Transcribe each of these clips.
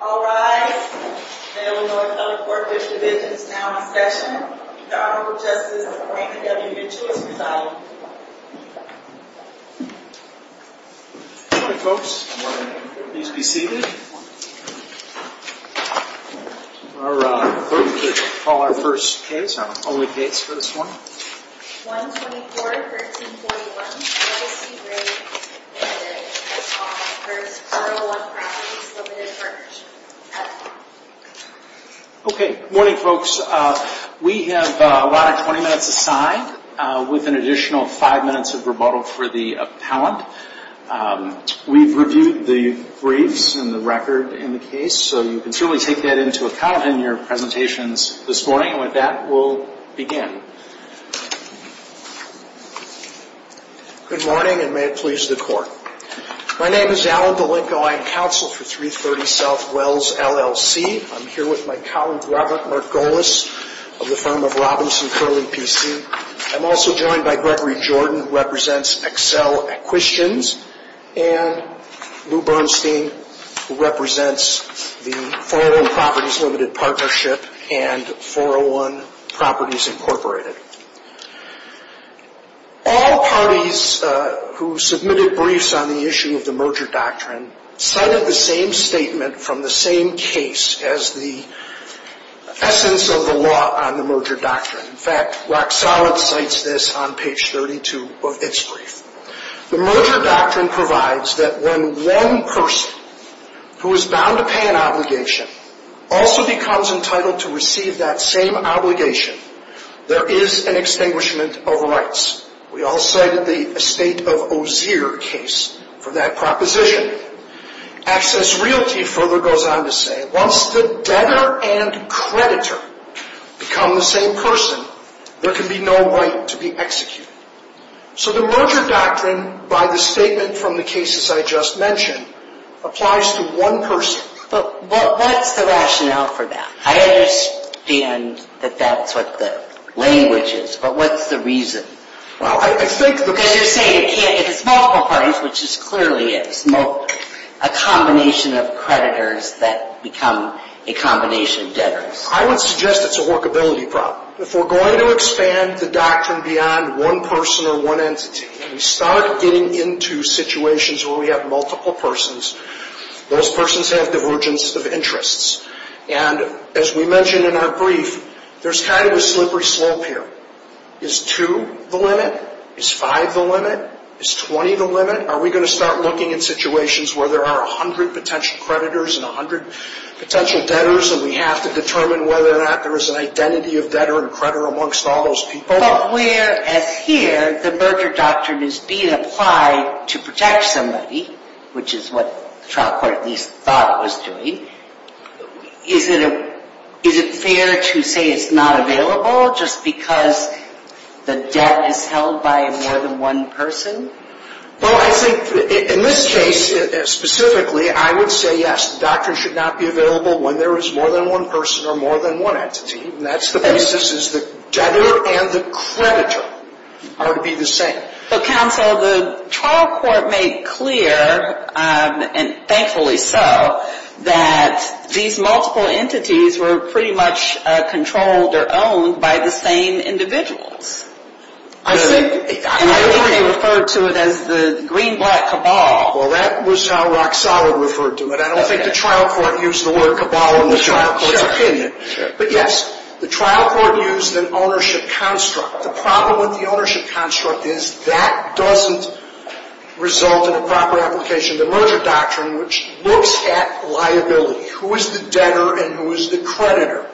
All rise. The Illinois Feller Corp Fish Division is now in session. The Honorable Justice Raina W. Mitchell is residing. Good morning, folks. Please be seated. Our first case, I'll read the dates for this one. 1-24-1341, L.A. C. Gray, M.D. That's all. First, 401 Properties Limited Partnership. Okay. Good morning, folks. We have a lot of 20 minutes assigned, with an additional 5 minutes of rebuttal for the appellant. We've reviewed the briefs and the record in the case, so you can truly take that into account in your presentations this morning. With that, we'll begin. Good morning, and may it please the Court. My name is Alan DeLinco. I am counsel for 330 South Wells, LLC. I'm here with my colleague Robert Margolis of the firm of Robinson Curley, P.C. I'm also joined by Gregory Jordan, who represents Accel at Quistians, and Lou Bernstein, who represents the 401 Properties Limited Partnership and 401 Properties Incorporated. All parties who submitted briefs on the issue of the merger doctrine cited the same statement from the same case as the essence of the law on the merger doctrine. In fact, Rock Solid cites this on page 32 of its brief. The merger doctrine provides that when one person who is bound to pay an obligation also becomes entitled to receive that same obligation, there is an extinguishment of rights. We all cited the estate of Ozier case for that proposition. Access Realty further goes on to say, once the debtor and creditor become the same person, there can be no right to be executed. So the merger doctrine, by the statement from the cases I just mentioned, applies to one person. But what's the rationale for that? I understand that that's what the language is, but what's the reason? Well, I think the... Because you're saying it's multiple parties, which it clearly is. A combination of creditors that become a combination of debtors. I would suggest it's a workability problem. If we're going to expand the doctrine beyond one person or one entity, and we start getting into situations where we have multiple persons, those persons have divergence of interests. And as we mentioned in our brief, there's kind of a slippery slope here. Is 2 the limit? Is 5 the limit? Is 20 the limit? Are we going to start looking at situations where there are 100 potential creditors and 100 potential debtors, and we have to determine whether or not there is an identity of debtor and creditor amongst all those people? But whereas here the merger doctrine is being applied to protect somebody, which is what the trial court at least thought it was doing, is it fair to say it's not available just because the debt is held by more than one person? Well, I think in this case specifically, I would say yes. The doctrine should not be available when there is more than one person or more than one entity. And that's the basis is the debtor and the creditor are to be the same. But counsel, the trial court made clear, and thankfully so, that these multiple entities were pretty much controlled or owned by the same individuals. I don't think they referred to it as the green-black cabal. Well, that was how Rock Solid referred to it. I don't think the trial court used the word cabal in the trial court's opinion. But yes, the trial court used an ownership construct. The problem with the ownership construct is that doesn't result in a proper application of the merger doctrine, which looks at liability. Who is the debtor and who is the creditor?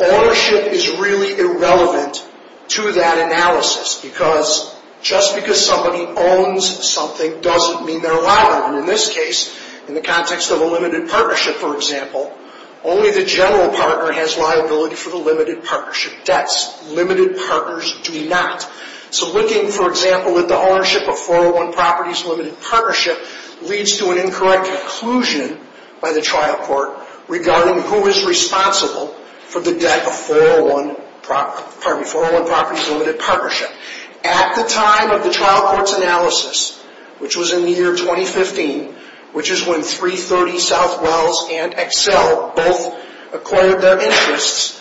Ownership is really irrelevant to that analysis because just because somebody owns something doesn't mean they're liable. And in this case, in the context of a limited partnership, for example, only the general partner has liability for the limited partnership debts. Limited partners do not. So looking, for example, at the ownership of 401 Properties Limited Partnership leads to an incorrect conclusion by the trial court regarding who is responsible for the debt of 401 Properties Limited Partnership. At the time of the trial court's analysis, which was in the year 2015, which is when 330 Southwells and Excel both acquired their interests,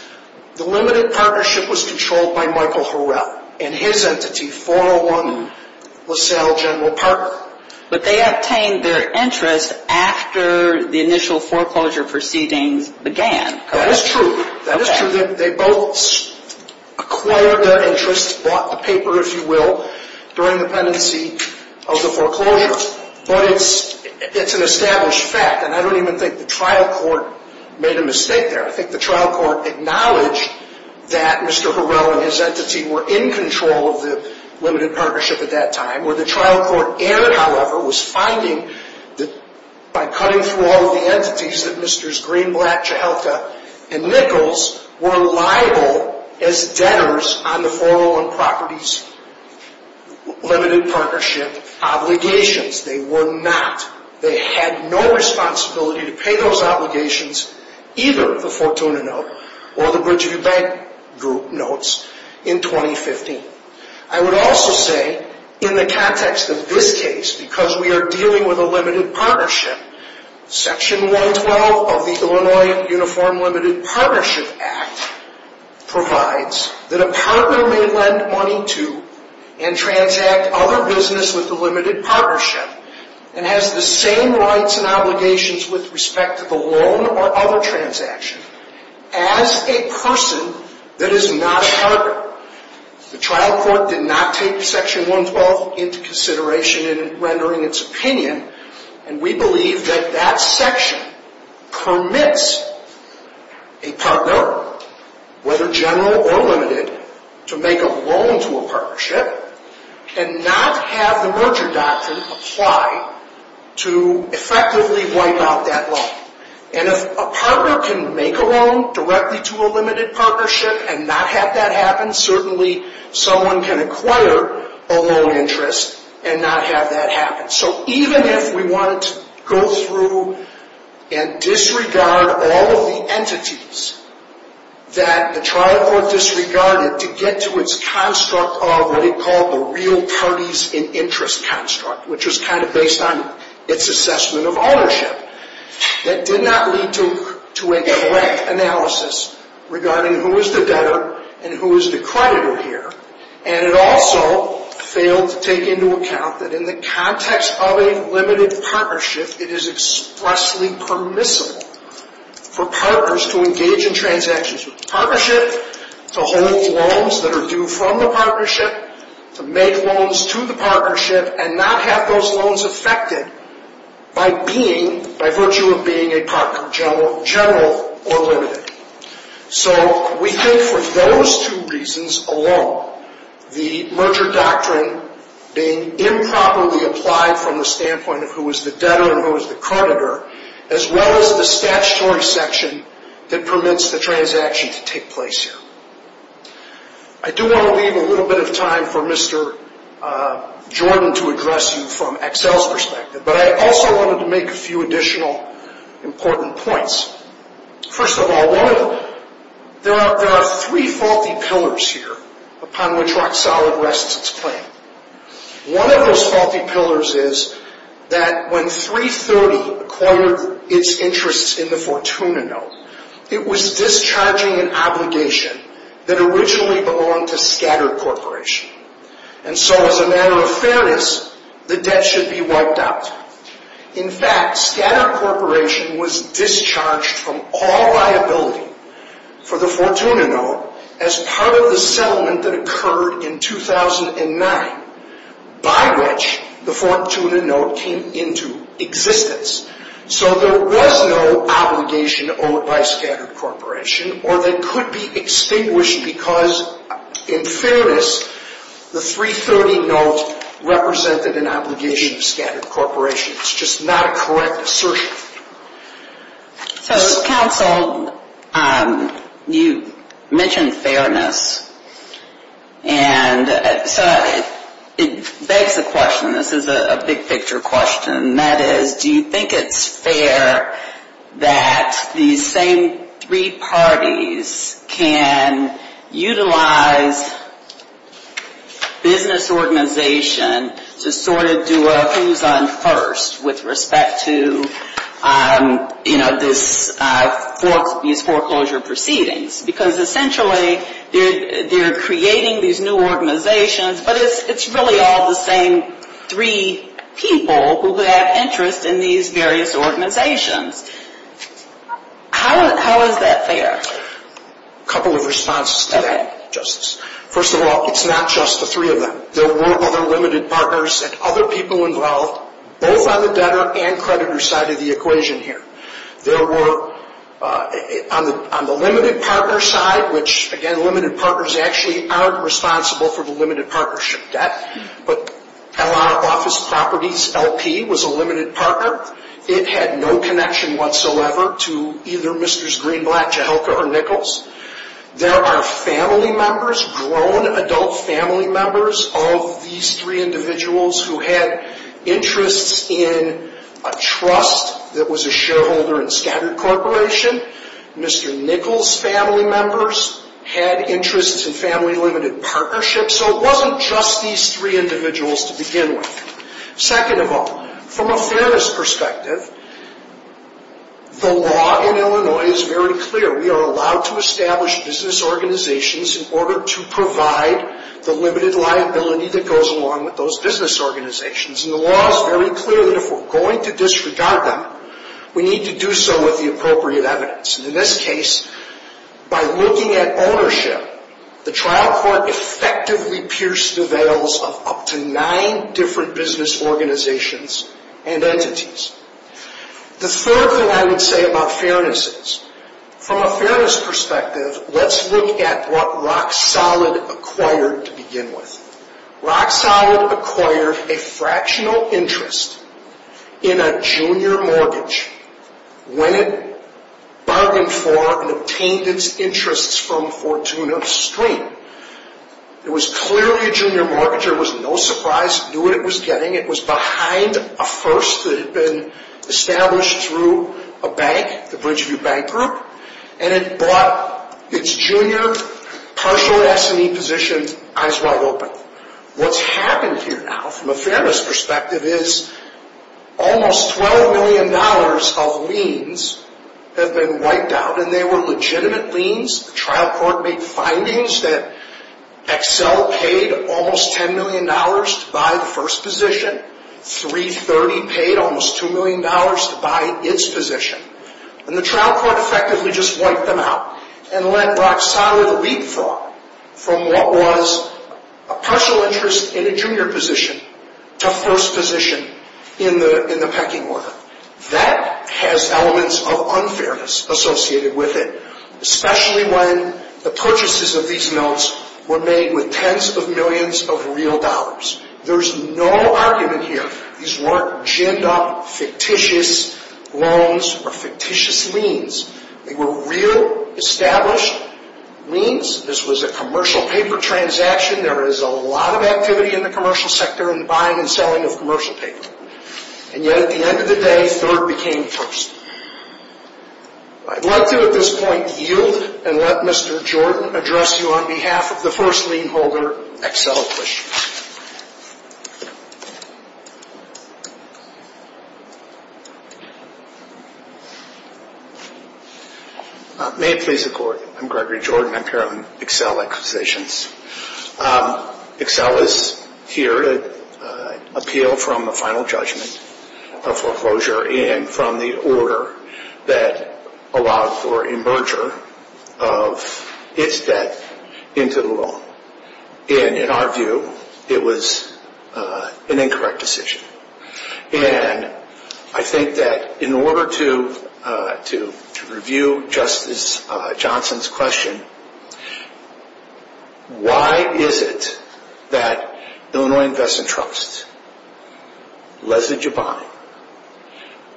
the limited partnership was controlled by Michael Harrell and his entity, 401 LaSalle General Partner. But they obtained their interest after the initial foreclosure proceedings began. That is true. That is true. They both acquired their interests, bought the paper, if you will, during the pendency of the foreclosure. But it's an established fact, and I don't even think the trial court made a mistake there. I think the trial court acknowledged that Mr. Harrell and his entity were in control of the limited partnership at that time. Where the trial court, however, was finding that by cutting through all of the entities, that Mr. Greenblatt, Chihelka, and Nichols were liable as debtors on the 401 Properties Limited Partnership obligations. They were not. They had no responsibility to pay those obligations, either the Fortuna note or the Bridgeview Bank Group notes, in 2015. I would also say, in the context of this case, because we are dealing with a limited partnership, Section 112 of the Illinois Uniform Limited Partnership Act provides that a partner may lend money to and transact other business with the limited partnership and has the same rights and obligations with respect to the loan or other transaction as a person that is not a partner. The trial court did not take Section 112 into consideration in rendering its opinion, and we believe that that section permits a partner, whether general or limited, to make a loan to a partnership and not have the merger doctrine apply to effectively wipe out that loan. And if a partner can make a loan directly to a limited partnership and not have that happen, certainly someone can acquire a loan interest and not have that happen. So even if we wanted to go through and disregard all of the entities that the trial court disregarded to get to its construct of what it called the real parties in interest construct, which was kind of based on its assessment of ownership, that did not lead to a direct analysis regarding who is the debtor and who is the creditor here. And it also failed to take into account that in the context of a limited partnership, it is expressly permissible for partners to engage in transactions with the partnership, to hold loans that are due from the partnership, to make loans to the partnership, and not have those loans affected by being, by virtue of being a partner general or limited. So we think for those two reasons alone, the merger doctrine being improperly applied from the standpoint of who is the debtor and who is the creditor, as well as the statutory section that permits the transaction to take place here. I do want to leave a little bit of time for Mr. Jordan to address you from Excel's perspective, but I also wanted to make a few additional important points. First of all, there are three faulty pillars here upon which Rock Solid rests its claim. One of those faulty pillars is that when 330 acquired its interests in the Fortuna Note, it was discharging an obligation that originally belonged to Scatter Corporation. And so as a matter of fairness, the debt should be wiped out. In fact, Scatter Corporation was discharged from all liability for the Fortuna Note as part of the settlement that occurred in 2009, by which the Fortuna Note came into existence. So there was no obligation owed by Scatter Corporation, or that could be extinguished because in fairness, the 330 Note represented an obligation of Scatter Corporation. It's just not a correct assertion. So, counsel, you mentioned fairness, and so it begs the question, this is a big picture question, and that is, do you think it's fair that these same three parties can utilize business organization to sort of do a who's on first with respect to, you know, these foreclosure proceedings? Because essentially, they're creating these new organizations, but it's really all the same three people who have interest in these various organizations. How is that fair? A couple of responses to that, Justice. First of all, it's not just the three of them. There were other limited partners and other people involved, both on the debtor and creditor side of the equation here. There were, on the limited partner side, which, again, limited partners actually aren't responsible for the limited partnership debt, but L.R. Office Properties LP was a limited partner. It had no connection whatsoever to either Mr. Greenblatt, Jehelka, or Nichols. There are family members, grown adult family members of these three individuals who had interests in a trust that was a shareholder in Scatter Corporation. Mr. Nichols' family members had interests in family limited partnerships. So it wasn't just these three individuals to begin with. Second of all, from a fairness perspective, the law in Illinois is very clear. We are allowed to establish business organizations in order to provide the limited liability that goes along with those business organizations. And the law is very clear that if we're going to disregard them, we need to do so with the appropriate evidence. And in this case, by looking at ownership, the trial court effectively pierced the veils of up to nine different business organizations and entities. The third thing I would say about fairness is, from a fairness perspective, let's look at what Rock Solid acquired to begin with. Rock Solid acquired a fractional interest in a junior mortgage when it bargained for and obtained its interests from Fortuna Stream. It was clearly a junior mortgage. It was no surprise. It knew what it was getting. It was behind a first that had been established through a bank, the Bridgeview Bank Group, and it bought its junior partial S&E position eyes wide open. What's happened here now, from a fairness perspective, is almost $12 million of liens have been wiped out. And they were legitimate liens. The trial court made findings that Excel paid almost $10 million to buy the first position. 330 paid almost $2 million to buy its position. And the trial court effectively just wiped them out and let Rock Solid leapfrog from what was a partial interest in a junior position to first position in the pecking order. That has elements of unfairness associated with it, especially when the purchases of these notes were made with tens of millions of real dollars. There's no argument here. These weren't jimmed-up, fictitious loans or fictitious liens. They were real, established liens. This was a commercial paper transaction. There is a lot of activity in the commercial sector in the buying and selling of commercial paper. And yet, at the end of the day, third became first. I'd like to, at this point, yield and let Mr. Jordan address you on behalf of the first lien holder, Excel Acquisitions. May it please the Court. I'm Gregory Jordan. I'm here on Excel Acquisitions. Excel is here to appeal from a final judgment of foreclosure and from the order that allowed for a merger of its debt into the loan. And in our view, it was an incorrect decision. And I think that in order to review Justice Johnson's question, why is it that Illinois Investment Trusts, Leslie Jubine,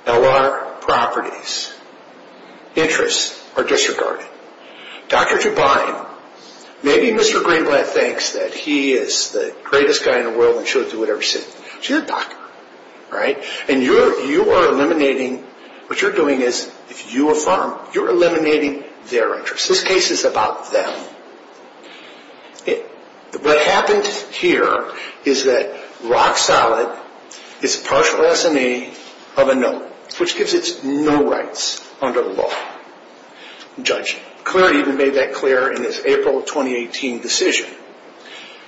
LR Properties, interests are disregarded? Dr. Jubine, maybe Mr. Greenblatt thinks that he is the greatest guy in the world and should do whatever he says. But you're a doctor, right? And you are eliminating, what you're doing is, if you affirm, you're eliminating their interests. This case is about them. What happened here is that rock solid is a partial S&A of a no, which gives it no rights under the law. I'm judging. Clery even made that clear in its April 2018 decision.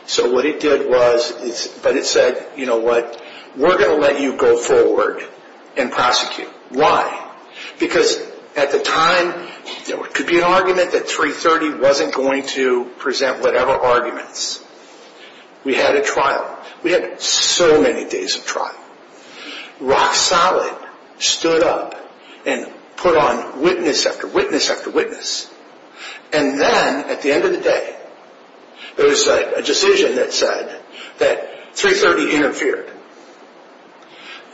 So what it did was, but it said, you know what, we're going to let you go forward and prosecute. Why? Because at the time, there could be an argument that 330 wasn't going to present whatever arguments. We had a trial. We had so many days of trial. Rock solid stood up and put on witness after witness after witness. And then, at the end of the day, there was a decision that said that 330 interfered.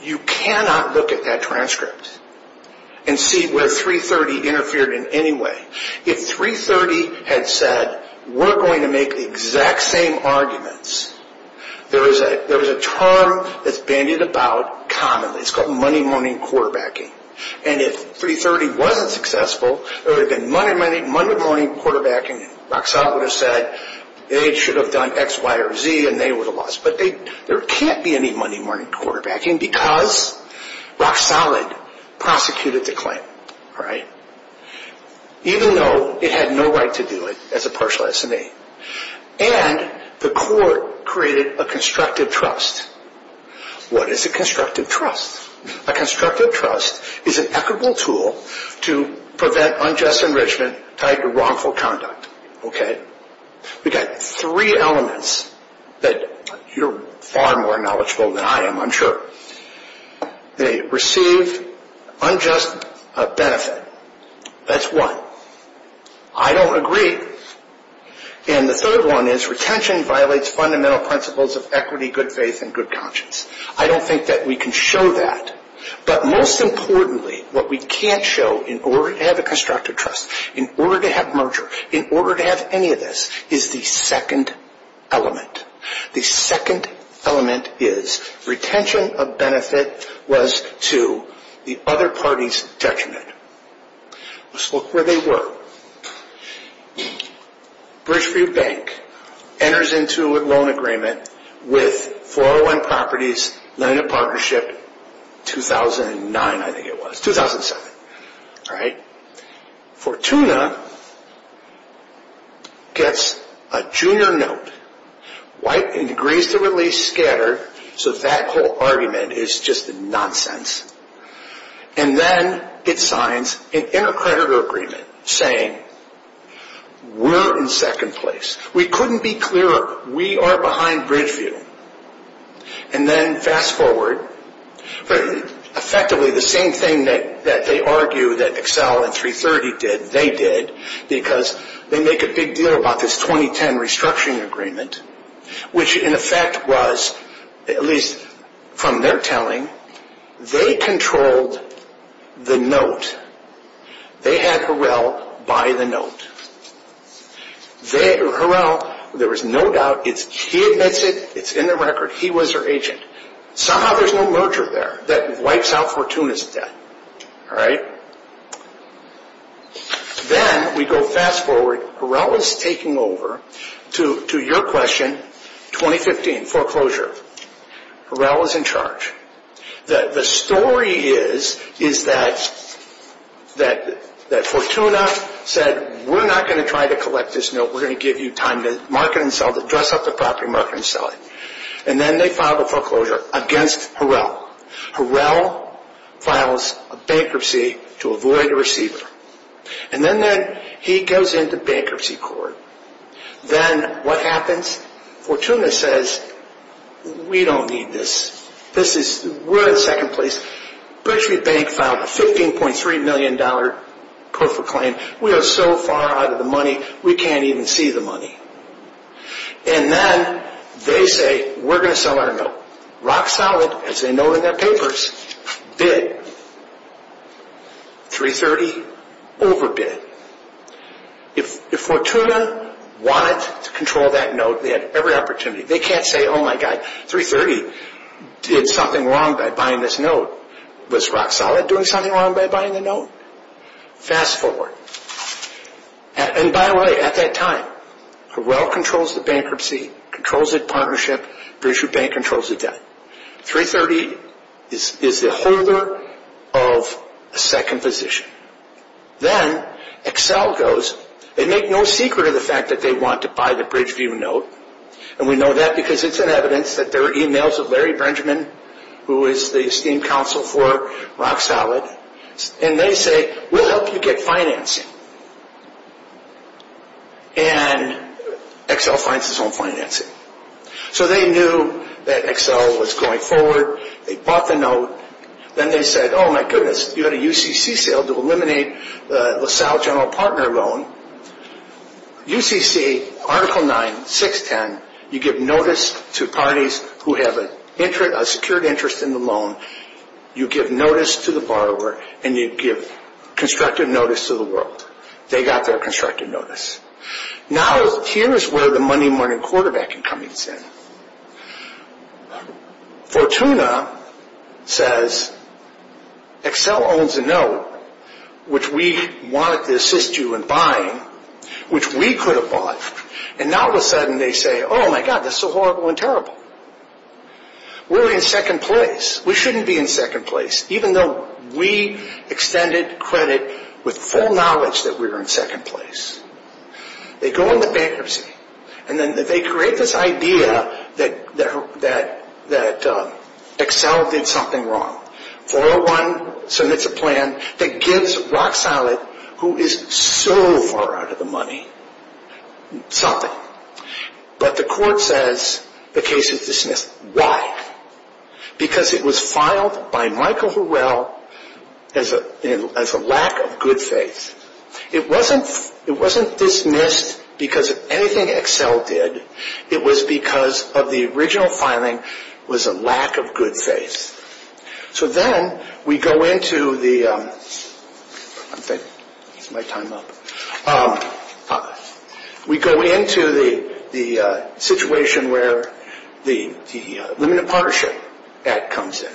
You cannot look at that transcript and see where 330 interfered in any way. If 330 had said, we're going to make the exact same arguments, there is a term that's bandied about commonly. It's called money-money quarterbacking. And if 330 wasn't successful, there would have been money-money quarterbacking. Rock solid would have said, they should have done X, Y, or Z, and they would have lost. But there can't be any money-money quarterbacking because rock solid prosecuted the claim. Even though it had no right to do it as a partial S&A. And the court created a constructive trust. What is a constructive trust? A constructive trust is an equitable tool to prevent unjust enrichment tied to wrongful conduct. We've got three elements that you're far more knowledgeable than I am, I'm sure. They receive unjust benefit. That's one. I don't agree. And the third one is retention violates fundamental principles of equity, good faith, and good conscience. I don't think that we can show that. But most importantly, what we can't show in order to have a constructive trust, in order to have merger, in order to have any of this, is the second element. The second element is retention of benefit was to the other party's detriment. Let's look where they were. Bridge Free Bank enters into a loan agreement with 401 Properties Lending Partnership 2009, I think it was, 2007. Fortuna gets a junior note. White and degrees to release scattered, so that whole argument is just nonsense. And then it signs an inter-creditor agreement saying, we're in second place. We couldn't be clearer. We are behind Bridgeview. And then fast forward, effectively the same thing that they argue that Excel and 330 did, they did, because they make a big deal about this 2010 restructuring agreement, which in effect was, at least from their telling, they controlled the note. They had Harrell buy the note. Harrell, there was no doubt, he admits it, it's in the record, he was their agent. Somehow there's no merger there that wipes out Fortuna's debt. Then we go fast forward. Harrell is taking over, to your question, 2015 foreclosure. Harrell is in charge. The story is that Fortuna said, we're not going to try to collect this note. We're going to give you time to market and sell it, dress up the property, market and sell it. And then they filed a foreclosure against Harrell. Harrell files a bankruptcy to avoid a receiver. And then he goes into bankruptcy court. Then what happens? Fortuna says, we don't need this. We're in second place. Bridgeview Bank filed a $15.3 million pro for claim. We are so far out of the money, we can't even see the money. And then they say, we're going to sell our note. Rock solid, as they note in their papers, bid. $330,000 overbid. If Fortuna wanted to control that note, they had every opportunity. They can't say, oh my God, $330,000 did something wrong by buying this note. Was rock solid doing something wrong by buying the note? Fast forward. And by the way, at that time, Harrell controls the bankruptcy, controls the partnership. Bridgeview Bank controls the debt. $330,000 is the holder of a second position. Then Excel goes. They make no secret of the fact that they want to buy the Bridgeview note. And we know that because it's in evidence that there are e-mails of Larry Benjamin, who is the esteemed counsel for Rock Solid. And they say, we'll help you get financing. And Excel finds its own financing. So they knew that Excel was going forward. They bought the note. Then they said, oh my goodness, you had a UCC sale to eliminate the LaSalle General Partner loan. UCC, Article 9, 610, you give notice to parties who have a secured interest in the loan, you give notice to the borrower, and you give constructive notice to the world. They got their constructive notice. Now, here is where the Monday morning quarterbacking comes in. Fortuna says, Excel owns a note, which we wanted to assist you in buying, which we could have bought. And now all of a sudden they say, oh my God, this is horrible and terrible. We're in second place. We shouldn't be in second place. Even though we extended credit with full knowledge that we were in second place. They go into bankruptcy. And then they create this idea that Excel did something wrong. 401 submits a plan that gives Rock Solid, who is so far out of the money, something. But the court says the case is dismissed. Why? Because it was filed by Michael Horrell as a lack of good faith. It wasn't dismissed because of anything Excel did. It was because of the original filing was a lack of good faith. So then we go into the situation where the Limited Partnership Act comes in,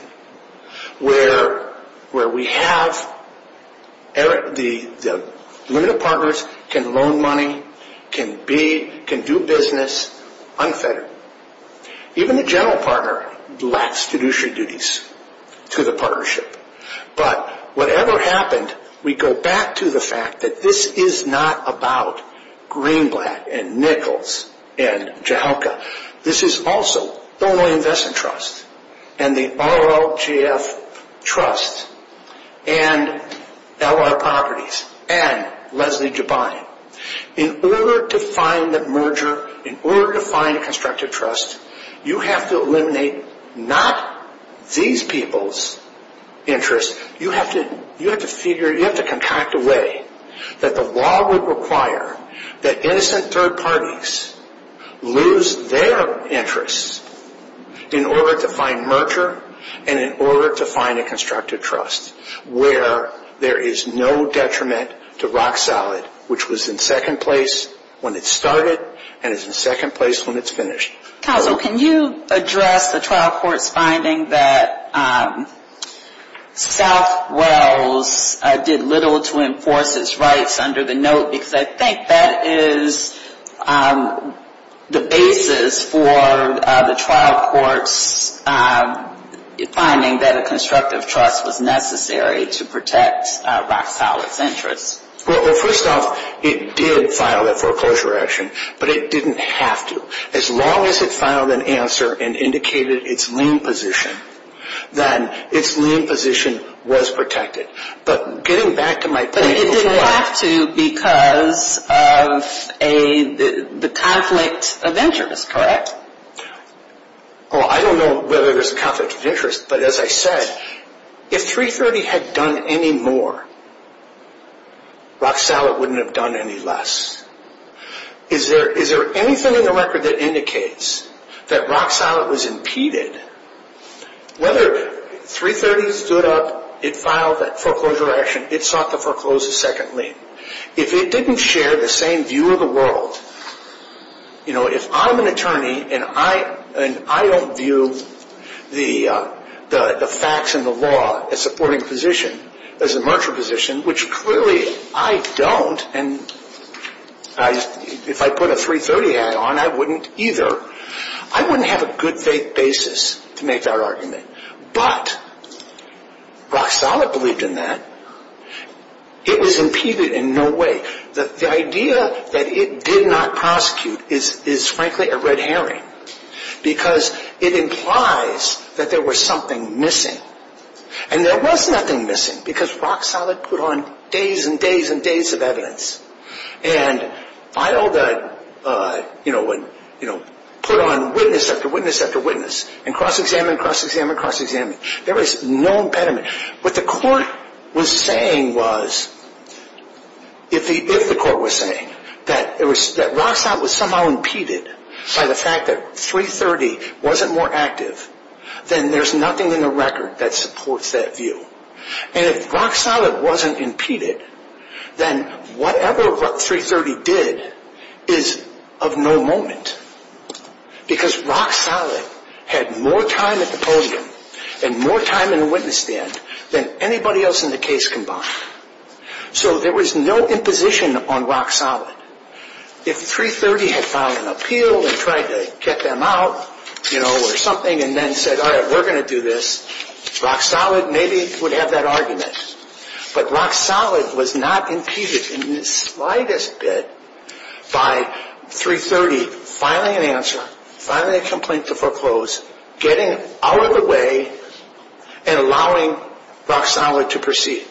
where we have the limited partners can loan money, can do business unfettered. Even the general partner lacks fiduciary duties to the partnership. But whatever happened, we go back to the fact that this is not about Greenblatt and Nichols and Jahelka. This is also Illinois Investment Trust and the RLJF Trust and L.L. and Leslie Dubin. In order to find a merger, in order to find a constructive trust, you have to eliminate not these people's interests. You have to contract a way that the law would require that innocent third parties lose their interests in order to find merger and in order to find a rock solid, which was in second place when it started and is in second place when it's finished. Counsel, can you address the trial court's finding that Southwells did little to enforce its rights under the note? Because I think that is the basis for the trial court's finding that a First off, it did file a foreclosure action, but it didn't have to. As long as it filed an answer and indicated its lien position, then its lien position was protected. But getting back to my point before. But it didn't have to because of the conflict of interest, correct? I don't know whether there's a conflict of interest, but as I said, if 330 had done any more, rock solid wouldn't have done any less. Is there anything in the record that indicates that rock solid was impeded? Whether 330 stood up, it filed that foreclosure action, it sought to foreclose a second lien. If it didn't share the same view of the world, you know, and I don't view the facts and the law as a supporting position, as a martial position, which clearly I don't, and if I put a 330 hat on, I wouldn't either. I wouldn't have a good faith basis to make that argument. But rock solid believed in that. It was impeded in no way. The idea that it did not prosecute is, frankly, a red herring because it implies that there was something missing. And there was nothing missing because rock solid put on days and days and days of evidence and filed a, you know, put on witness after witness after witness and cross-examined, cross-examined, cross-examined. There was no impediment. What the court was saying was, if the court was saying that rock solid was somehow impeded by the fact that 330 wasn't more active, then there's nothing in the record that supports that view. And if rock solid wasn't impeded, then whatever 330 did is of no moment because rock solid had more time at the podium and more time in the witness stand than anybody else in the case combined. So there was no imposition on rock solid. If 330 had filed an appeal and tried to get them out, you know, or something, and then said, all right, we're going to do this, rock solid maybe would have that argument. But rock solid was not impeded in the slightest bit by 330 filing an answer, filing a complaint to foreclose, getting out of the way, and allowing rock solid to proceed.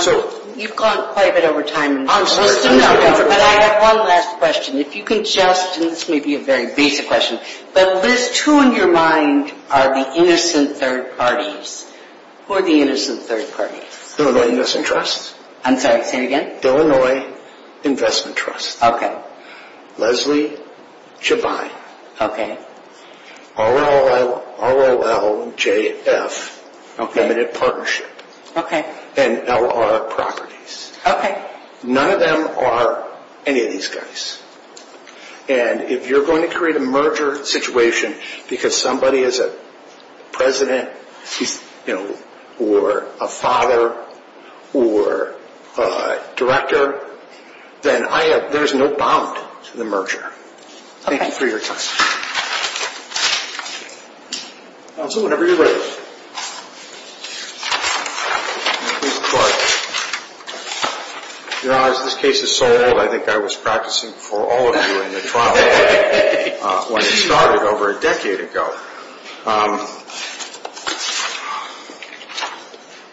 So... You've gone quite a bit over time. I'm sorry. But I have one last question. If you can just, and this may be a very basic question, but Liz, just who in your mind are the innocent third parties? Who are the innocent third parties? Illinois Investment Trust. I'm sorry, say it again. Illinois Investment Trust. Okay. Leslie Jevine. Okay. R-O-L-L-J-F Limited Partnership. Okay. And L-R Properties. Okay. None of them are any of these guys. And if you're going to create a merger situation because somebody is a president, you know, or a father, or a director, then there's no bound to the merger. Thank you for your question. Also, whenever you're ready. You know, as this case is so old, I think I was practicing for all of you in the trial when it started over a decade ago.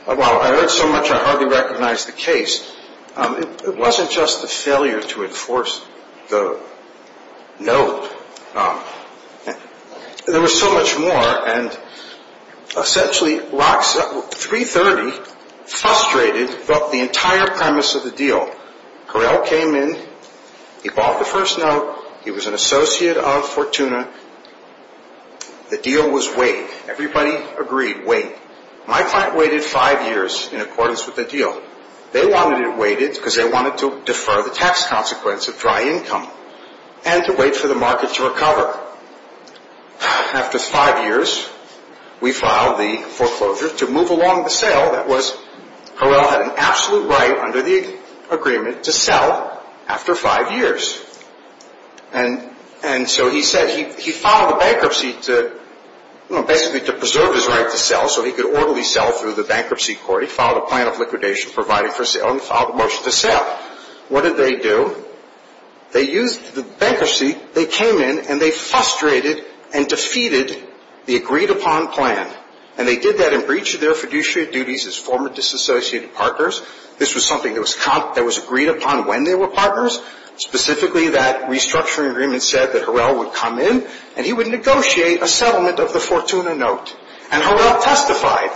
While I heard so much, I hardly recognized the case. It wasn't just the failure to enforce the note. There was so much more. And essentially, 330 frustrated the entire premise of the deal. Correll came in. He bought the first note. He was an associate of Fortuna. The deal was wait. Everybody agreed, wait. My client waited five years in accordance with the deal. They wanted it waited because they wanted to defer the tax consequence of dry income and to wait for the market to recover. After five years, we filed the foreclosure to move along the sale. That was Correll had an absolute right under the agreement to sell after five years. And so he said he filed a bankruptcy to, you know, basically to preserve his right to sell so he could orderly sell through the bankruptcy court. He filed a plan of liquidation provided for sale. He filed a motion to sell. What did they do? They used the bankruptcy. They came in and they frustrated and defeated the agreed-upon plan. And they did that in breach of their fiduciary duties as former disassociated partners. This was something that was agreed upon when they were partners. Specifically, that restructuring agreement said that Correll would come in and he would negotiate a settlement of the Fortuna note. And Correll testified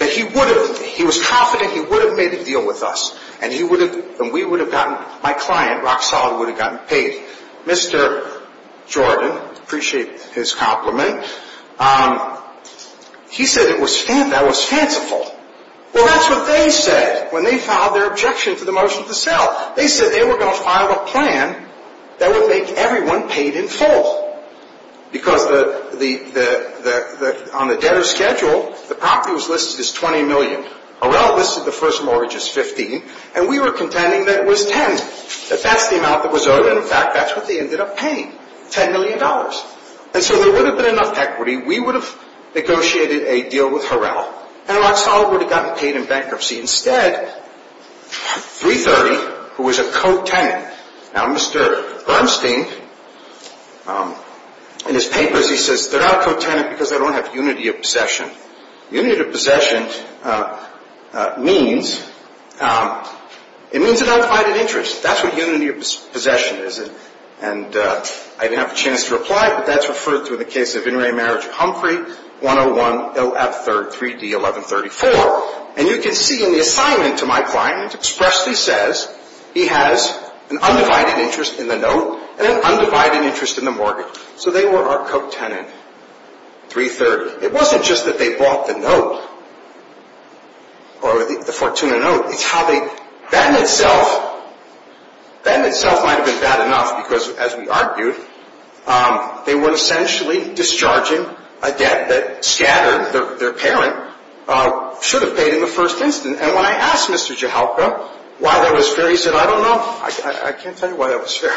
that he would have. He was confident he would have made a deal with us. And he would have. And we would have gotten. My client, Roxal, would have gotten paid. Mr. Jordan, appreciate his compliment. He said that was fanciful. Well, that's what they said when they filed their objection to the motion to sell. They said they were going to file a plan that would make everyone paid in full. Because on the debtor's schedule, the property was listed as $20 million. Correll listed the first mortgage as $15 million. And we were contending that it was $10 million. That that's the amount that was owed. And, in fact, that's what they ended up paying, $10 million. And so there wouldn't have been enough equity. We would have negotiated a deal with Correll. And Roxal would have gotten paid in bankruptcy. Instead, 330, who was a co-tenant. Now, Mr. Bernstein, in his papers, he says they're not co-tenant because they don't have unity of possession. Unity of possession means it means an undivided interest. That's what unity of possession is. And I didn't have a chance to reply, but that's referred to in the case of In re Marriage Humphrey, 101 OF 3rd, 3D 1134. And you can see in the assignment to my client, it expressly says he has an undivided interest in the note and an undivided interest in the mortgage. So they were our co-tenant, 330. It wasn't just that they bought the note or the Fortuna note. It's how they, that in itself, that in itself might have been bad enough because, as we argued, they were essentially discharging a debt that Scatter, their parent, should have paid in the first instance. And when I asked Mr. Jahalka why that was fair, he said, I don't know. I can't tell you why that was fair.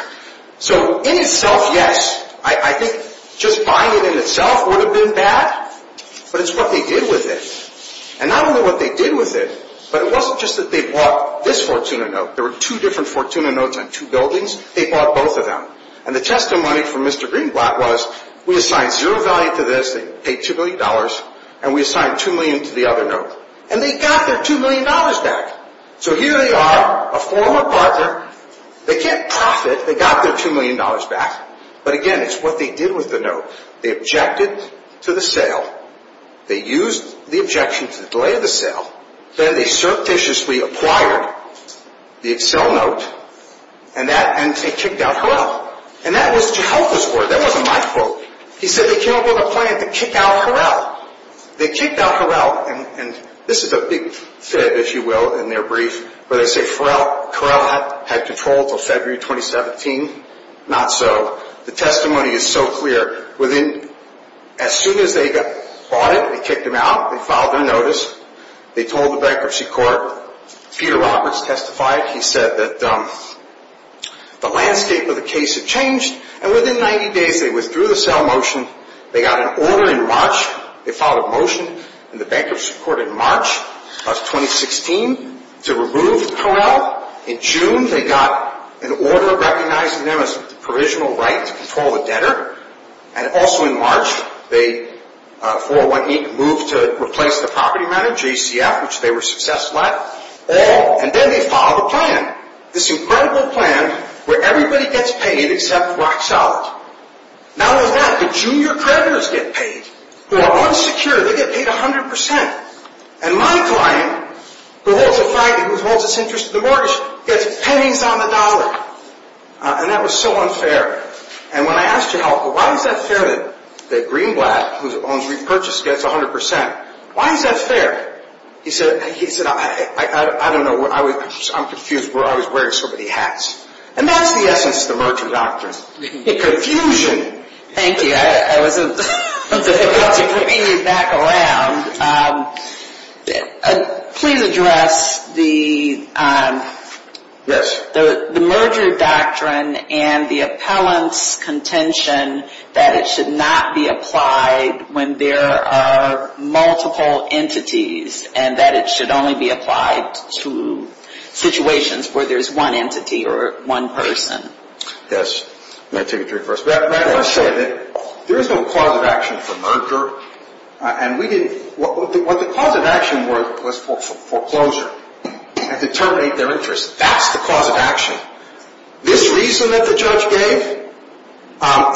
So in itself, yes, I think just buying it in itself would have been bad, but it's what they did with it. And I don't know what they did with it, but it wasn't just that they bought this Fortuna note. There were two different Fortuna notes on two buildings. They bought both of them. And the testimony from Mr. Greenblatt was we assigned zero value to this. They paid $2 million, and we assigned $2 million to the other note. And they got their $2 million back. So here they are, a former partner. They can't profit. They got their $2 million back. But, again, it's what they did with the note. They objected to the sale. They used the objection to delay the sale. Then they surreptitiously acquired the Excel note, and they kicked out Harrell. And that was Jahalka's word. That wasn't my quote. He said they came up with a plan to kick out Harrell. They kicked out Harrell. This is a big fib, if you will, in their brief, where they say Harrell had control until February 2017. Not so. The testimony is so clear. As soon as they bought it, they kicked him out. They filed their notice. They told the bankruptcy court. Peter Roberts testified. He said that the landscape of the case had changed. And within 90 days, they withdrew the sale motion. They got an order in March. They filed a motion in the bankruptcy court in March of 2016 to remove Harrell. In June, they got an order recognizing them as a provisional right to control the debtor. And also in March, they, 4-1-8, moved to replace the property manager, GCF, which they were successful at. And then they filed a plan. This incredible plan where everybody gets paid except Rock Solid. Not only that, the junior creditors get paid who are unsecured. They get paid 100%. And my client, who holds this interest in the mortgage, gets pennies on the dollar. And that was so unfair. And when I asked to help, why is that fair that Greenblatt, who owns Repurchase, gets 100%? Why is that fair? He said, I don't know. I'm confused. I was wearing so many hats. And that's the essence of the merchant doctrine. The confusion. Thank you. I was about to bring you back around. Please address the merger doctrine and the appellant's contention that it should not be applied when there are multiple entities. And that it should only be applied to situations where there's one entity or one person. Yes. May I take it to reverse? Let's say that there is no cause of action for merger. And what the cause of action was foreclosure. And to terminate their interest. That's the cause of action. This reason that the judge gave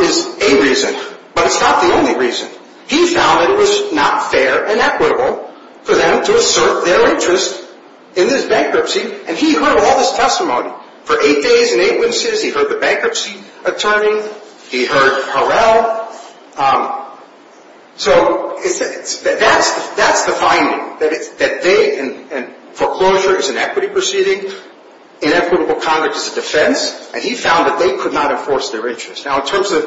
is a reason. But it's not the only reason. He found that it was not fair and equitable for them to assert their interest in this bankruptcy. And he heard all this testimony. For eight days and eight witnesses, he heard the bankruptcy attorney. He heard Harrell. So that's the finding. That foreclosure is an equity proceeding. Inequitable conduct is a defense. And he found that they could not enforce their interest. Now in terms of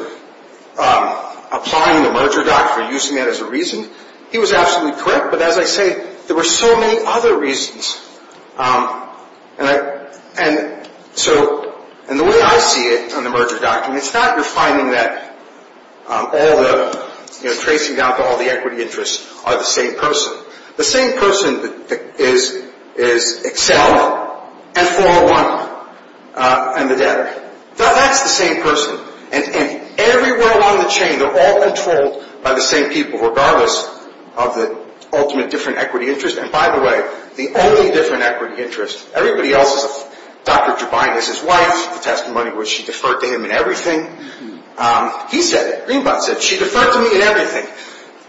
applying the merger doctrine, using that as a reason, he was absolutely correct. But as I say, there were so many other reasons. And so the way I see it on the merger doctrine, it's not you're finding that all the, you know, tracing down to all the equity interests are the same person. The same person is Excel and 401 and the debtor. That's the same person. And everywhere along the chain, they're all controlled by the same people, regardless of the ultimate different equity interest. And, by the way, the only different equity interest, everybody else is, Dr. Jubine is his wife. The testimony was she deferred to him in everything. He said it. Greenblatt said it. She deferred to me in everything.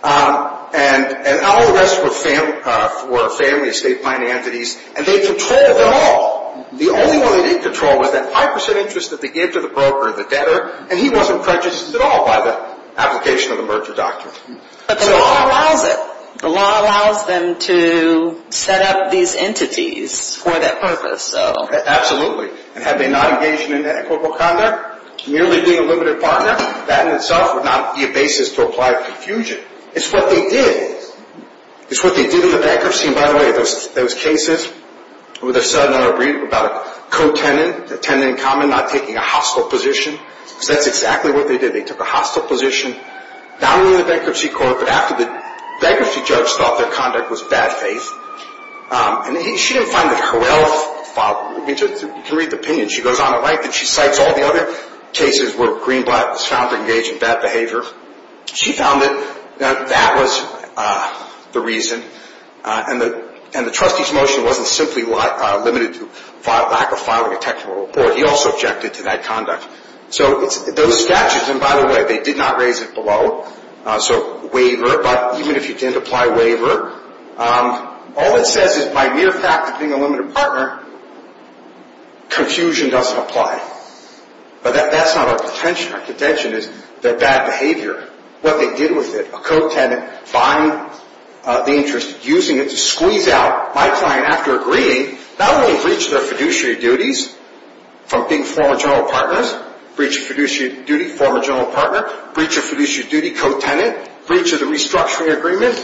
And all the rest were family estate planning entities. And they controlled it all. The only one they didn't control was that 5% interest that they gave to the broker, the debtor. And he wasn't prejudiced at all by the application of the merger doctrine. But the law allows it. The law allows them to set up these entities for that purpose, so. Absolutely. And had they not engaged in inequitable conduct, merely being a limited partner, that in itself would not be a basis to apply confusion. It's what they did. It's what they did in the bankruptcy. And, by the way, those cases where they're sudden or brief about a co-tenant, a tenant in common not taking a hostile position, that's exactly what they did. They took a hostile position, not only in the bankruptcy court, but after the bankruptcy judge thought their conduct was bad faith. And she didn't find that Harrell filed. You can read the opinion. She goes on to write that she cites all the other cases where Greenblatt was found to engage in bad behavior. She found that that was the reason. And the trustee's motion wasn't simply limited to lack of filing a technical report. He also objected to that conduct. So those statutes, and, by the way, they did not raise it below. So waiver, but even if you didn't apply waiver, all it says is by mere fact of being a limited partner, confusion doesn't apply. But that's not our contention. Our contention is that bad behavior, what they did with it, a co-tenant buying the interest, using it to squeeze out my client after agreeing, not only breached their fiduciary duties from being former general partners, breach of fiduciary duty, former general partner, breach of fiduciary duty, co-tenant, breach of the restructuring agreement,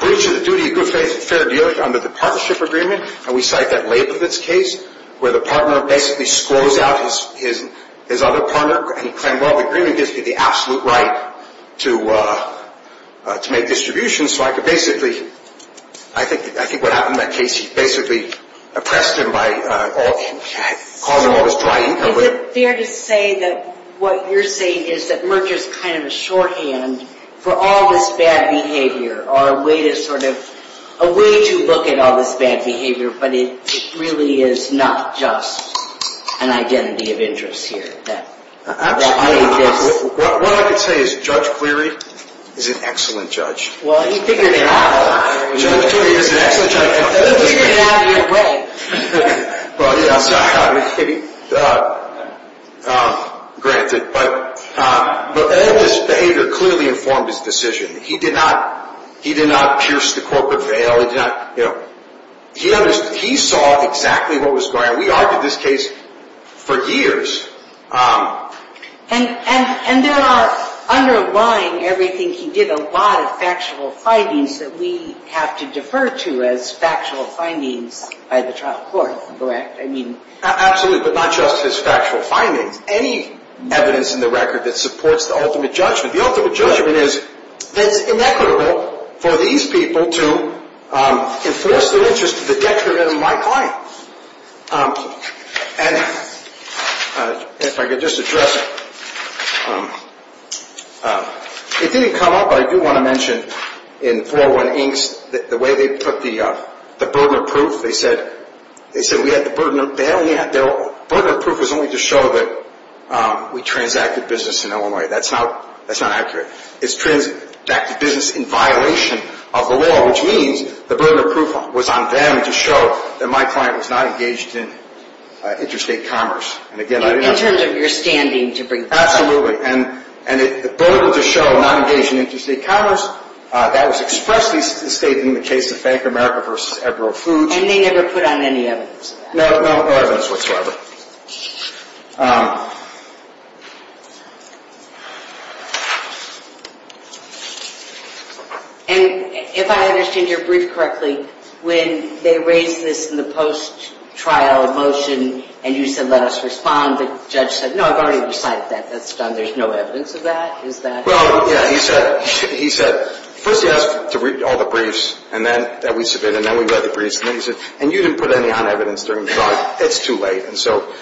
breach of the duty of good faith and fair deal under the partnership agreement. And we cite that Labovitz case where the partner basically scrolls out his other partner and he claimed, well, the agreement gives me the absolute right to make distributions. So I could basically, I think what happened in that case, he basically oppressed him by causing all this drying. Is it fair to say that what you're saying is that Merger is kind of a shorthand for all this bad behavior or a way to sort of, a way to look at all this bad behavior, but it really is not just an identity of interest here? Actually, what I could say is Judge Cleary is an excellent judge. Well, he figured it out. Judge Cleary is an excellent judge. He figured it out either way. Well, yes, granted. But all this behavior clearly informed his decision. He did not pierce the corporate veil. He saw exactly what was going on. We argued this case for years. And there are, underlying everything he did, a lot of factual findings that we have to defer to as factual findings by the trial court, correct? Absolutely, but not just his factual findings. Any evidence in the record that supports the ultimate judgment. The ultimate judgment is that it's inequitable for these people to enforce their interest to the detriment of my client. And if I could just address, it didn't come up, but I do want to mention in 401 Inks the way they put the burden of proof. They said we had the burden of proof. The burden of proof was only to show that we transacted business in Illinois. That's not accurate. It's transacted business in violation of the law, which means the burden of proof was on them to show that my client was not engaged in interstate commerce. In terms of your standing to bring this up. Absolutely. And the burden to show not engaged in interstate commerce, that was expressly stated in the case of Bank of America v. Edward R. Fudge. And they never put on any evidence of that? No, no evidence whatsoever. And if I understand your brief correctly, when they raised this in the post-trial motion and you said, let us respond, the judge said, no, I've already decided that that's done. There's no evidence of that? Well, yeah. He said, first he asked to read all the briefs that we submitted, and then we read the briefs. And then he said, and you didn't put any on evidence during the trial. It's too late. And so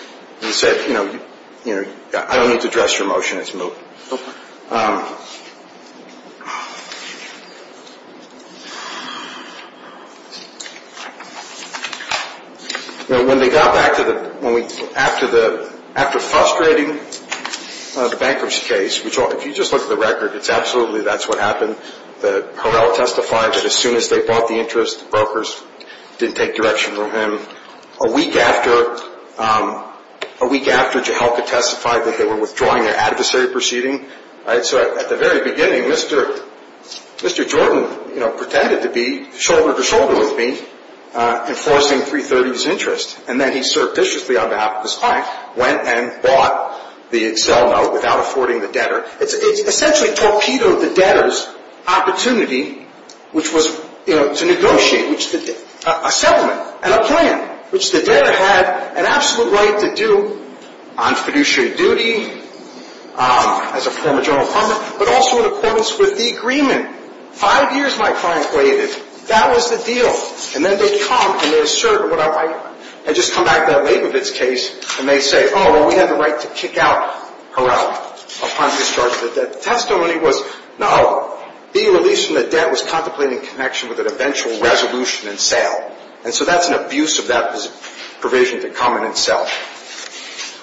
he said, you know, I don't need to address your motion. It's moved. You know, when they got back to the – after the – after frustrating the bankruptcy case, which if you just look at the record, it's absolutely that's what happened. Harrell testified that as soon as they brought the interest, brokers didn't take direction from him. A week after – a week after Jehelka testified that they were withdrawing their adversary proceeding, so at the very beginning, Mr. Jordan, you know, pretended to be shoulder-to-shoulder with me enforcing 330's interest, and then he surreptitiously on behalf of his client went and bought the Excel note without affording the debtor. It essentially torpedoed the debtor's opportunity, which was, you know, to negotiate, which the – a settlement and a plan, which the debtor had an absolute right to do on fiduciary duty, as a former general partner, but also in accordance with the agreement. Five years my client waited. That was the deal. And then they come and they assert what I – and just come back to that Labovitz case, and they say, oh, well, we had the right to kick out Harrell upon discharge of the debt. The testimony was, no, being released from the debt was contemplating connection with an eventual resolution and sale. And so that's an abuse of that provision to come in and sell.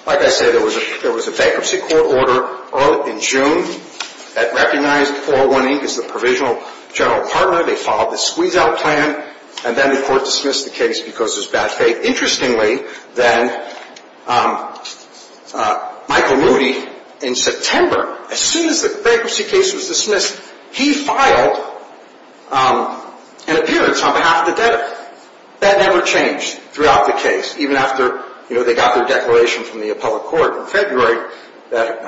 Like I said, there was a bankruptcy court order in June that recognized 401E as the provisional general partner. They followed the squeeze-out plan, and then the court dismissed the case because it was bad faith. Interestingly, then, Michael Moody, in September, as soon as the bankruptcy case was dismissed, he filed an appearance on behalf of the debtor. That never changed throughout the case, even after, you know, they got their declaration from the appellate court in February that,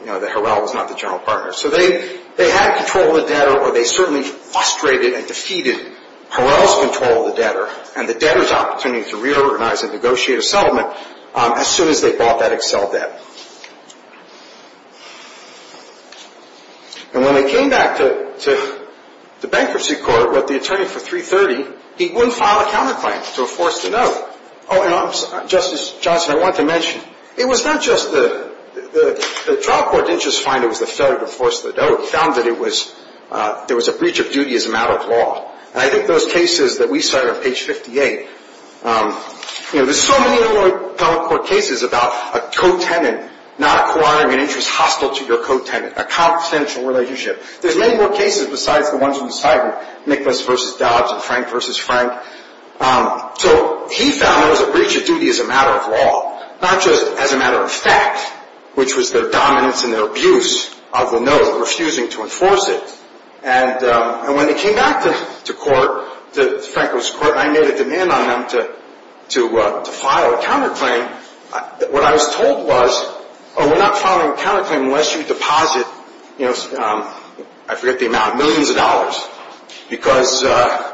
you know, that Harrell was not the general partner. So they had control of the debtor, or they certainly frustrated and defeated Harrell's control of the debtor and the debtor's opportunity to reorganize and negotiate a settlement as soon as they bought that Excel debt. And when they came back to the bankruptcy court with the attorney for 330, he wouldn't file a counterclaim to enforce the note. Oh, and Justice Johnson, I wanted to mention, it was not just the – the trial court didn't just find it was a failure to enforce the note. It found that it was – there was a breach of duty as a matter of law. And I think those cases that we cite on page 58, you know, there's so many other appellate court cases about a co-tenant not acquiring an interest hostile to your co-tenant, a confidential relationship. There's many more cases besides the ones on the side of Nicholas v. Dobbs and Frank v. Frank. So he found there was a breach of duty as a matter of law, not just as a matter of fact, which was their dominance and their abuse of the note, refusing to enforce it. And when they came back to court, to Franco's court, I made a demand on them to file a counterclaim. What I was told was, oh, we're not filing a counterclaim unless you deposit, you know, I forget the amount, millions of dollars. Because –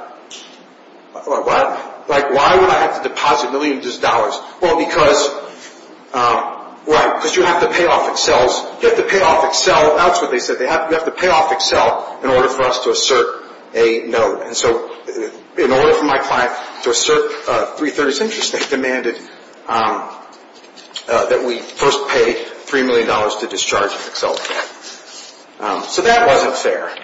like, why would I have to deposit millions of dollars? Well, because – right, because you have to pay off Excel's – you have to pay off Excel. That's what they said. You have to pay off Excel in order for us to assert a note. And so in order for my client to assert a 330 cent interest, they demanded that we first pay $3 million to discharge Excel. So that wasn't fair.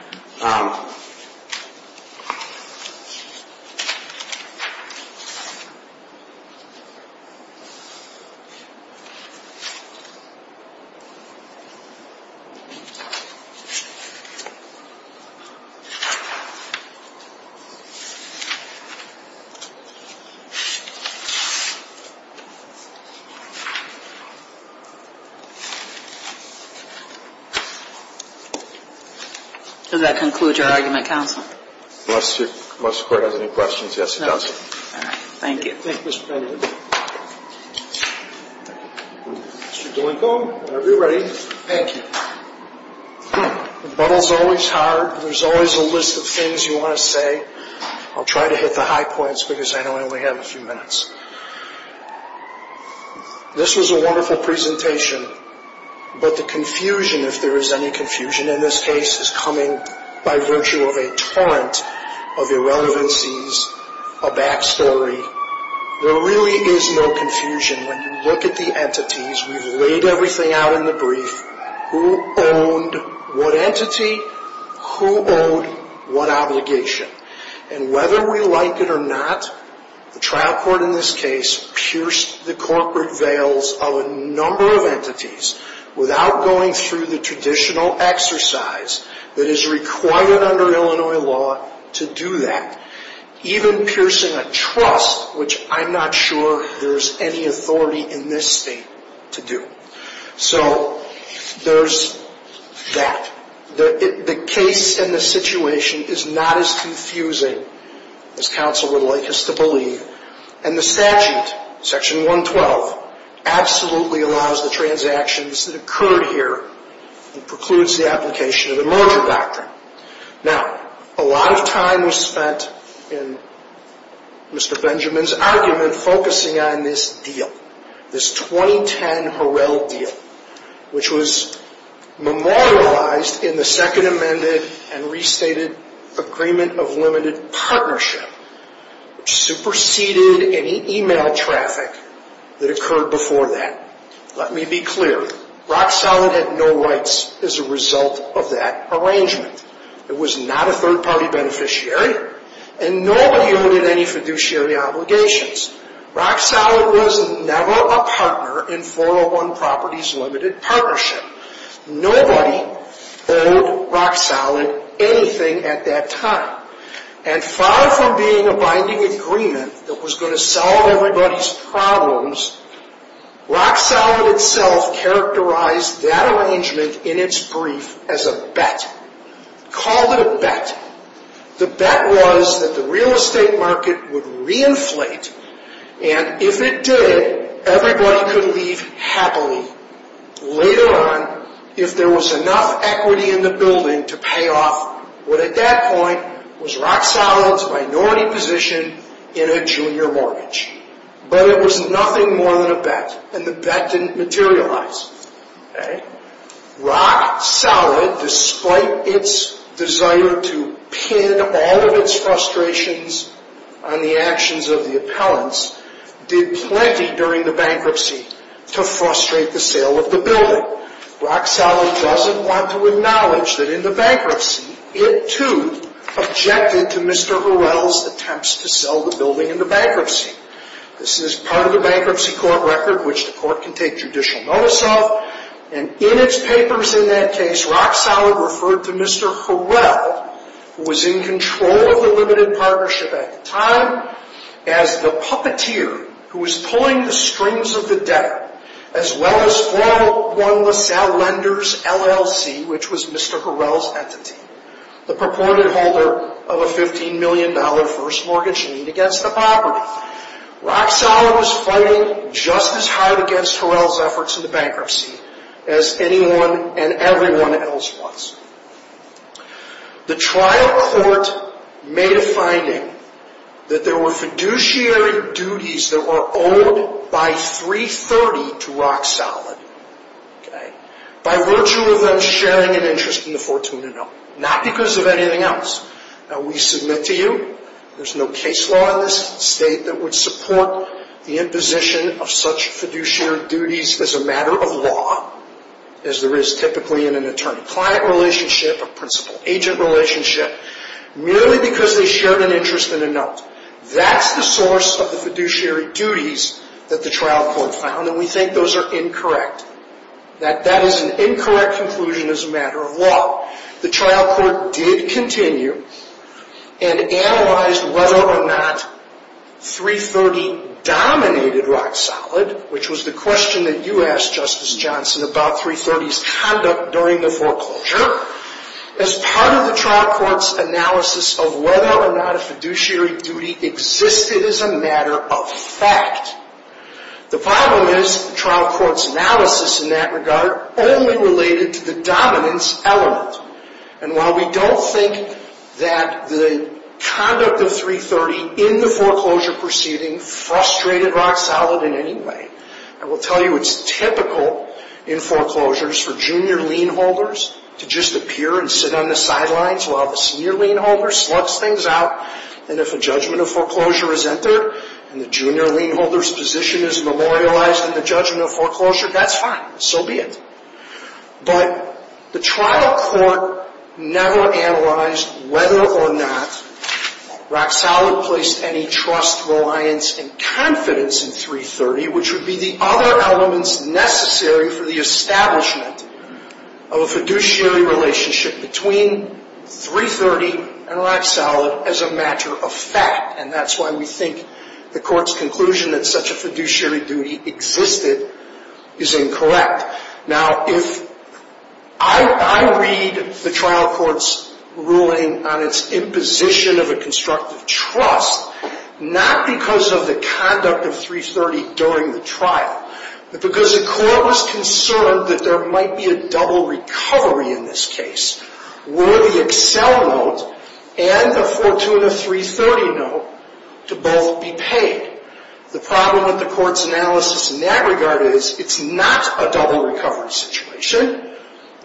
Does that conclude your argument, counsel? Unless the court has any questions, yes, it does. All right. Thank you. Thank you, Mr. President. Mr. DeLincoln, whenever you're ready. Thank you. The bubble's always hard. There's always a list of things you want to say. I'll try to hit the high points because I know I only have a few minutes. This was a wonderful presentation. But the confusion, if there is any confusion in this case, is coming by virtue of a torrent of irrelevancies, a backstory. There really is no confusion when you look at the entities. We've laid everything out in the brief. Who owned what entity? Who owed what obligation? And whether we like it or not, the trial court in this case pierced the corporate veils of a number of entities without going through the traditional exercise that is required under Illinois law to do that, even piercing a trust, which I'm not sure there's any authority in this state to do. So there's that. The case and the situation is not as confusing as counsel would like us to believe. And the statute, Section 112, absolutely allows the transactions that occurred here and precludes the application of the merger doctrine. Now, a lot of time was spent in Mr. Benjamin's argument focusing on this deal, this 2010 Harrell deal, which was memorialized in the Second Amended and Restated Agreement of Limited Partnership, which superseded any e-mail traffic that occurred before that. Let me be clear. Rock Solid had no rights as a result of that arrangement. It was not a third-party beneficiary. And nobody owned it any fiduciary obligations. Rock Solid was never a partner in 401 Properties Limited Partnership. Nobody owned Rock Solid anything at that time. And far from being a binding agreement that was going to solve everybody's problems, Rock Solid itself characterized that arrangement in its brief as a bet. Called it a bet. The bet was that the real estate market would reinflate, and if it did, everybody could leave happily later on if there was enough equity in the building to pay off what at that point was Rock Solid's minority position in a junior mortgage. But it was nothing more than a bet, and the bet didn't materialize. Rock Solid, despite its desire to pin all of its frustrations on the actions of the appellants, did plenty during the bankruptcy to frustrate the sale of the building. Rock Solid doesn't want to acknowledge that in the bankruptcy, it too objected to Mr. Hurrell's attempts to sell the building in the bankruptcy. This is part of the bankruptcy court record, which the court can take judicial notice of, and in its papers in that case, Rock Solid referred to Mr. Hurrell, who was in control of the Limited Partnership at the time, as the puppeteer who was pulling the strings of the debtor, as well as 401 LaSalle Lenders LLC, which was Mr. Hurrell's entity, the purported holder of a $15 million first mortgage lien against the property. Rock Solid was fighting just as hard against Hurrell's efforts in the bankruptcy as anyone and everyone else was. The trial court made a finding that there were fiduciary duties that were owed by 330 to Rock Solid, by virtue of them sharing an interest in the Fortuna note, not because of anything else. We submit to you, there's no case law in this state that would support the imposition of such fiduciary duties as a matter of law, as there is typically in an attorney-client relationship, a principal-agent relationship, merely because they shared an interest in a note. That's the source of the fiduciary duties that the trial court found, and we think those are incorrect. That that is an incorrect conclusion as a matter of law. The trial court did continue and analyzed whether or not 330 dominated Rock Solid, which was the question that you asked, Justice Johnson, about 330's conduct during the foreclosure. However, as part of the trial court's analysis of whether or not a fiduciary duty existed as a matter of fact, the problem is the trial court's analysis in that regard only related to the dominance element. And while we don't think that the conduct of 330 in the foreclosure proceeding frustrated Rock Solid in any way, I will tell you it's typical in foreclosures for junior lien holders to just appear and sit on the sidelines while the senior lien holder slugs things out, and if a judgment of foreclosure is entered and the junior lien holder's position is memorialized in the judgment of foreclosure, that's fine. So be it. But the trial court never analyzed whether or not Rock Solid placed any trust, reliance, and confidence in 330, which would be the other elements necessary for the establishment of a fiduciary relationship between 330 and Rock Solid as a matter of fact. And that's why we think the court's conclusion that such a fiduciary duty existed is incorrect. Now, if I read the trial court's ruling on its imposition of a constructive trust, not because of the conduct of 330 during the trial, but because the court was concerned that there might be a double recovery in this case, were the Excel note and the Fortuna 330 note to both be paid. The problem with the court's analysis in that regard is it's not a double recovery situation.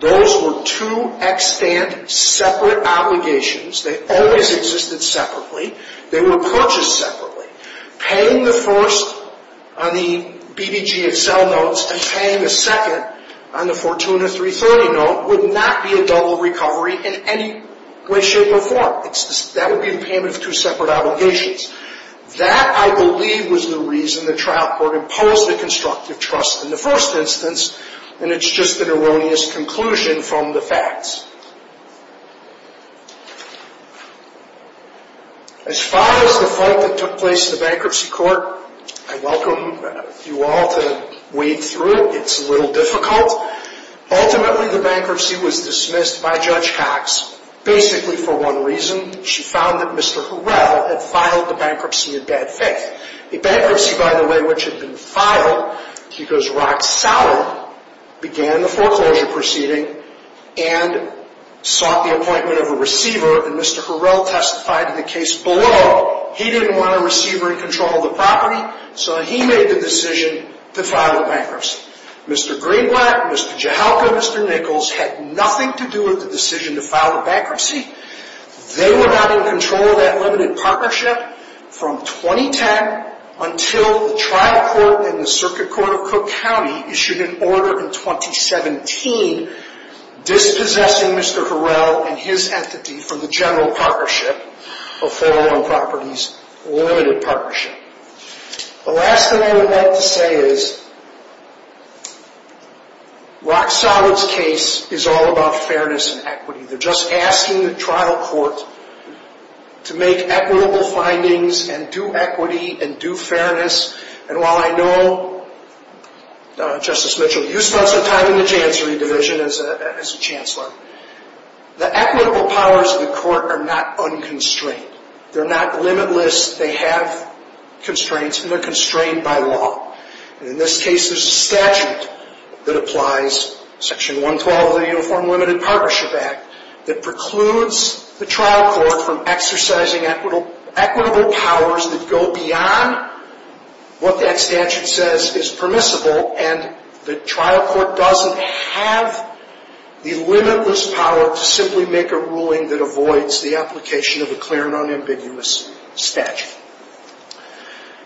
Those were two extant separate obligations. They always existed separately. They were purchased separately. Paying the first on the BBG Excel notes and paying the second on the Fortuna 330 note would not be a double recovery in any way, shape, or form. That would be the payment of two separate obligations. That, I believe, was the reason the trial court imposed a constructive trust in the first instance, and it's just an erroneous conclusion from the facts. As far as the fight that took place in the bankruptcy court, I welcome you all to wade through it. It's a little difficult. Ultimately, the bankruptcy was dismissed by Judge Cox basically for one reason. She found that Mr. Hurrell had filed the bankruptcy in bad faith. The bankruptcy, by the way, which had been filed because Rock Sauer began the foreclosure proceeding and sought the appointment of a receiver, and Mr. Hurrell testified in the case below, he didn't want a receiver in control of the property, so he made the decision to file the bankruptcy. Mr. Greenblatt, Mr. Jahalka, Mr. Nichols had nothing to do with the decision to file the bankruptcy. They were not in control of that limited partnership from 2010 until the trial court and the circuit court of Cook County issued an order in 2017 dispossessing Mr. Hurrell and his entity from the general partnership of 401 Properties Limited Partnership. The last thing I would like to say is Rock Sauer's case is all about fairness and equity. They're just asking the trial court to make equitable findings and do equity and do fairness. And while I know, Justice Mitchell, you spent some time in the Chancery Division as a chancellor, the equitable powers of the court are not unconstrained. They're not limitless. They have constraints, and they're constrained by law. In this case, there's a statute that applies, Section 112 of the Uniform Limited Partnership Act, that precludes the trial court from exercising equitable powers that go beyond what that statute says is permissible and the trial court doesn't have the limitless power to simply make a ruling that avoids the application of a clear and unambiguous statute.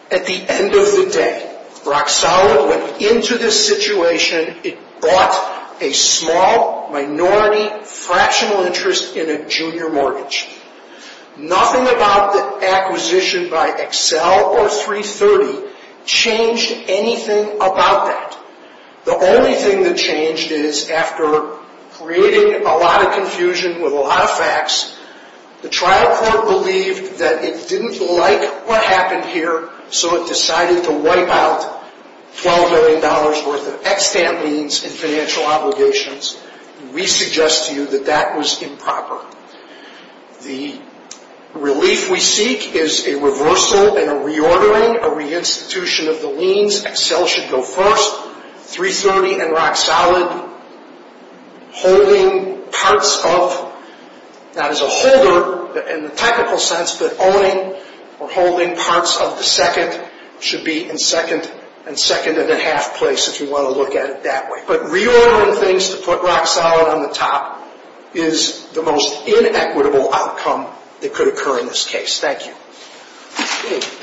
At the end of the day, Rock Sauer went into this situation, it bought a small minority fractional interest in a junior mortgage. Nothing about the acquisition by Excel or 330 changed anything about that. The only thing that changed is after creating a lot of confusion with a lot of facts, the trial court believed that it didn't like what happened here, so it decided to wipe out $12 million worth of extant liens and financial obligations. We suggest to you that that was improper. The relief we seek is a reversal and a reordering, a reinstitution of the liens. Excel should go first, 330 and Rock Sauer holding parts of, not as a holder in the technical sense, but owning or holding parts of the second should be in second and second and a half place, if you want to look at it that way. But reordering things to put Rock Sauer on the top is the most inequitable outcome that could occur in this case. Thank you.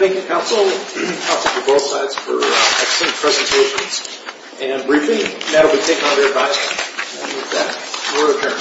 Thank you, counsel. Counsel to both sides for excellent presentations and briefing. That will be taken under revising. With that, we're adjourned.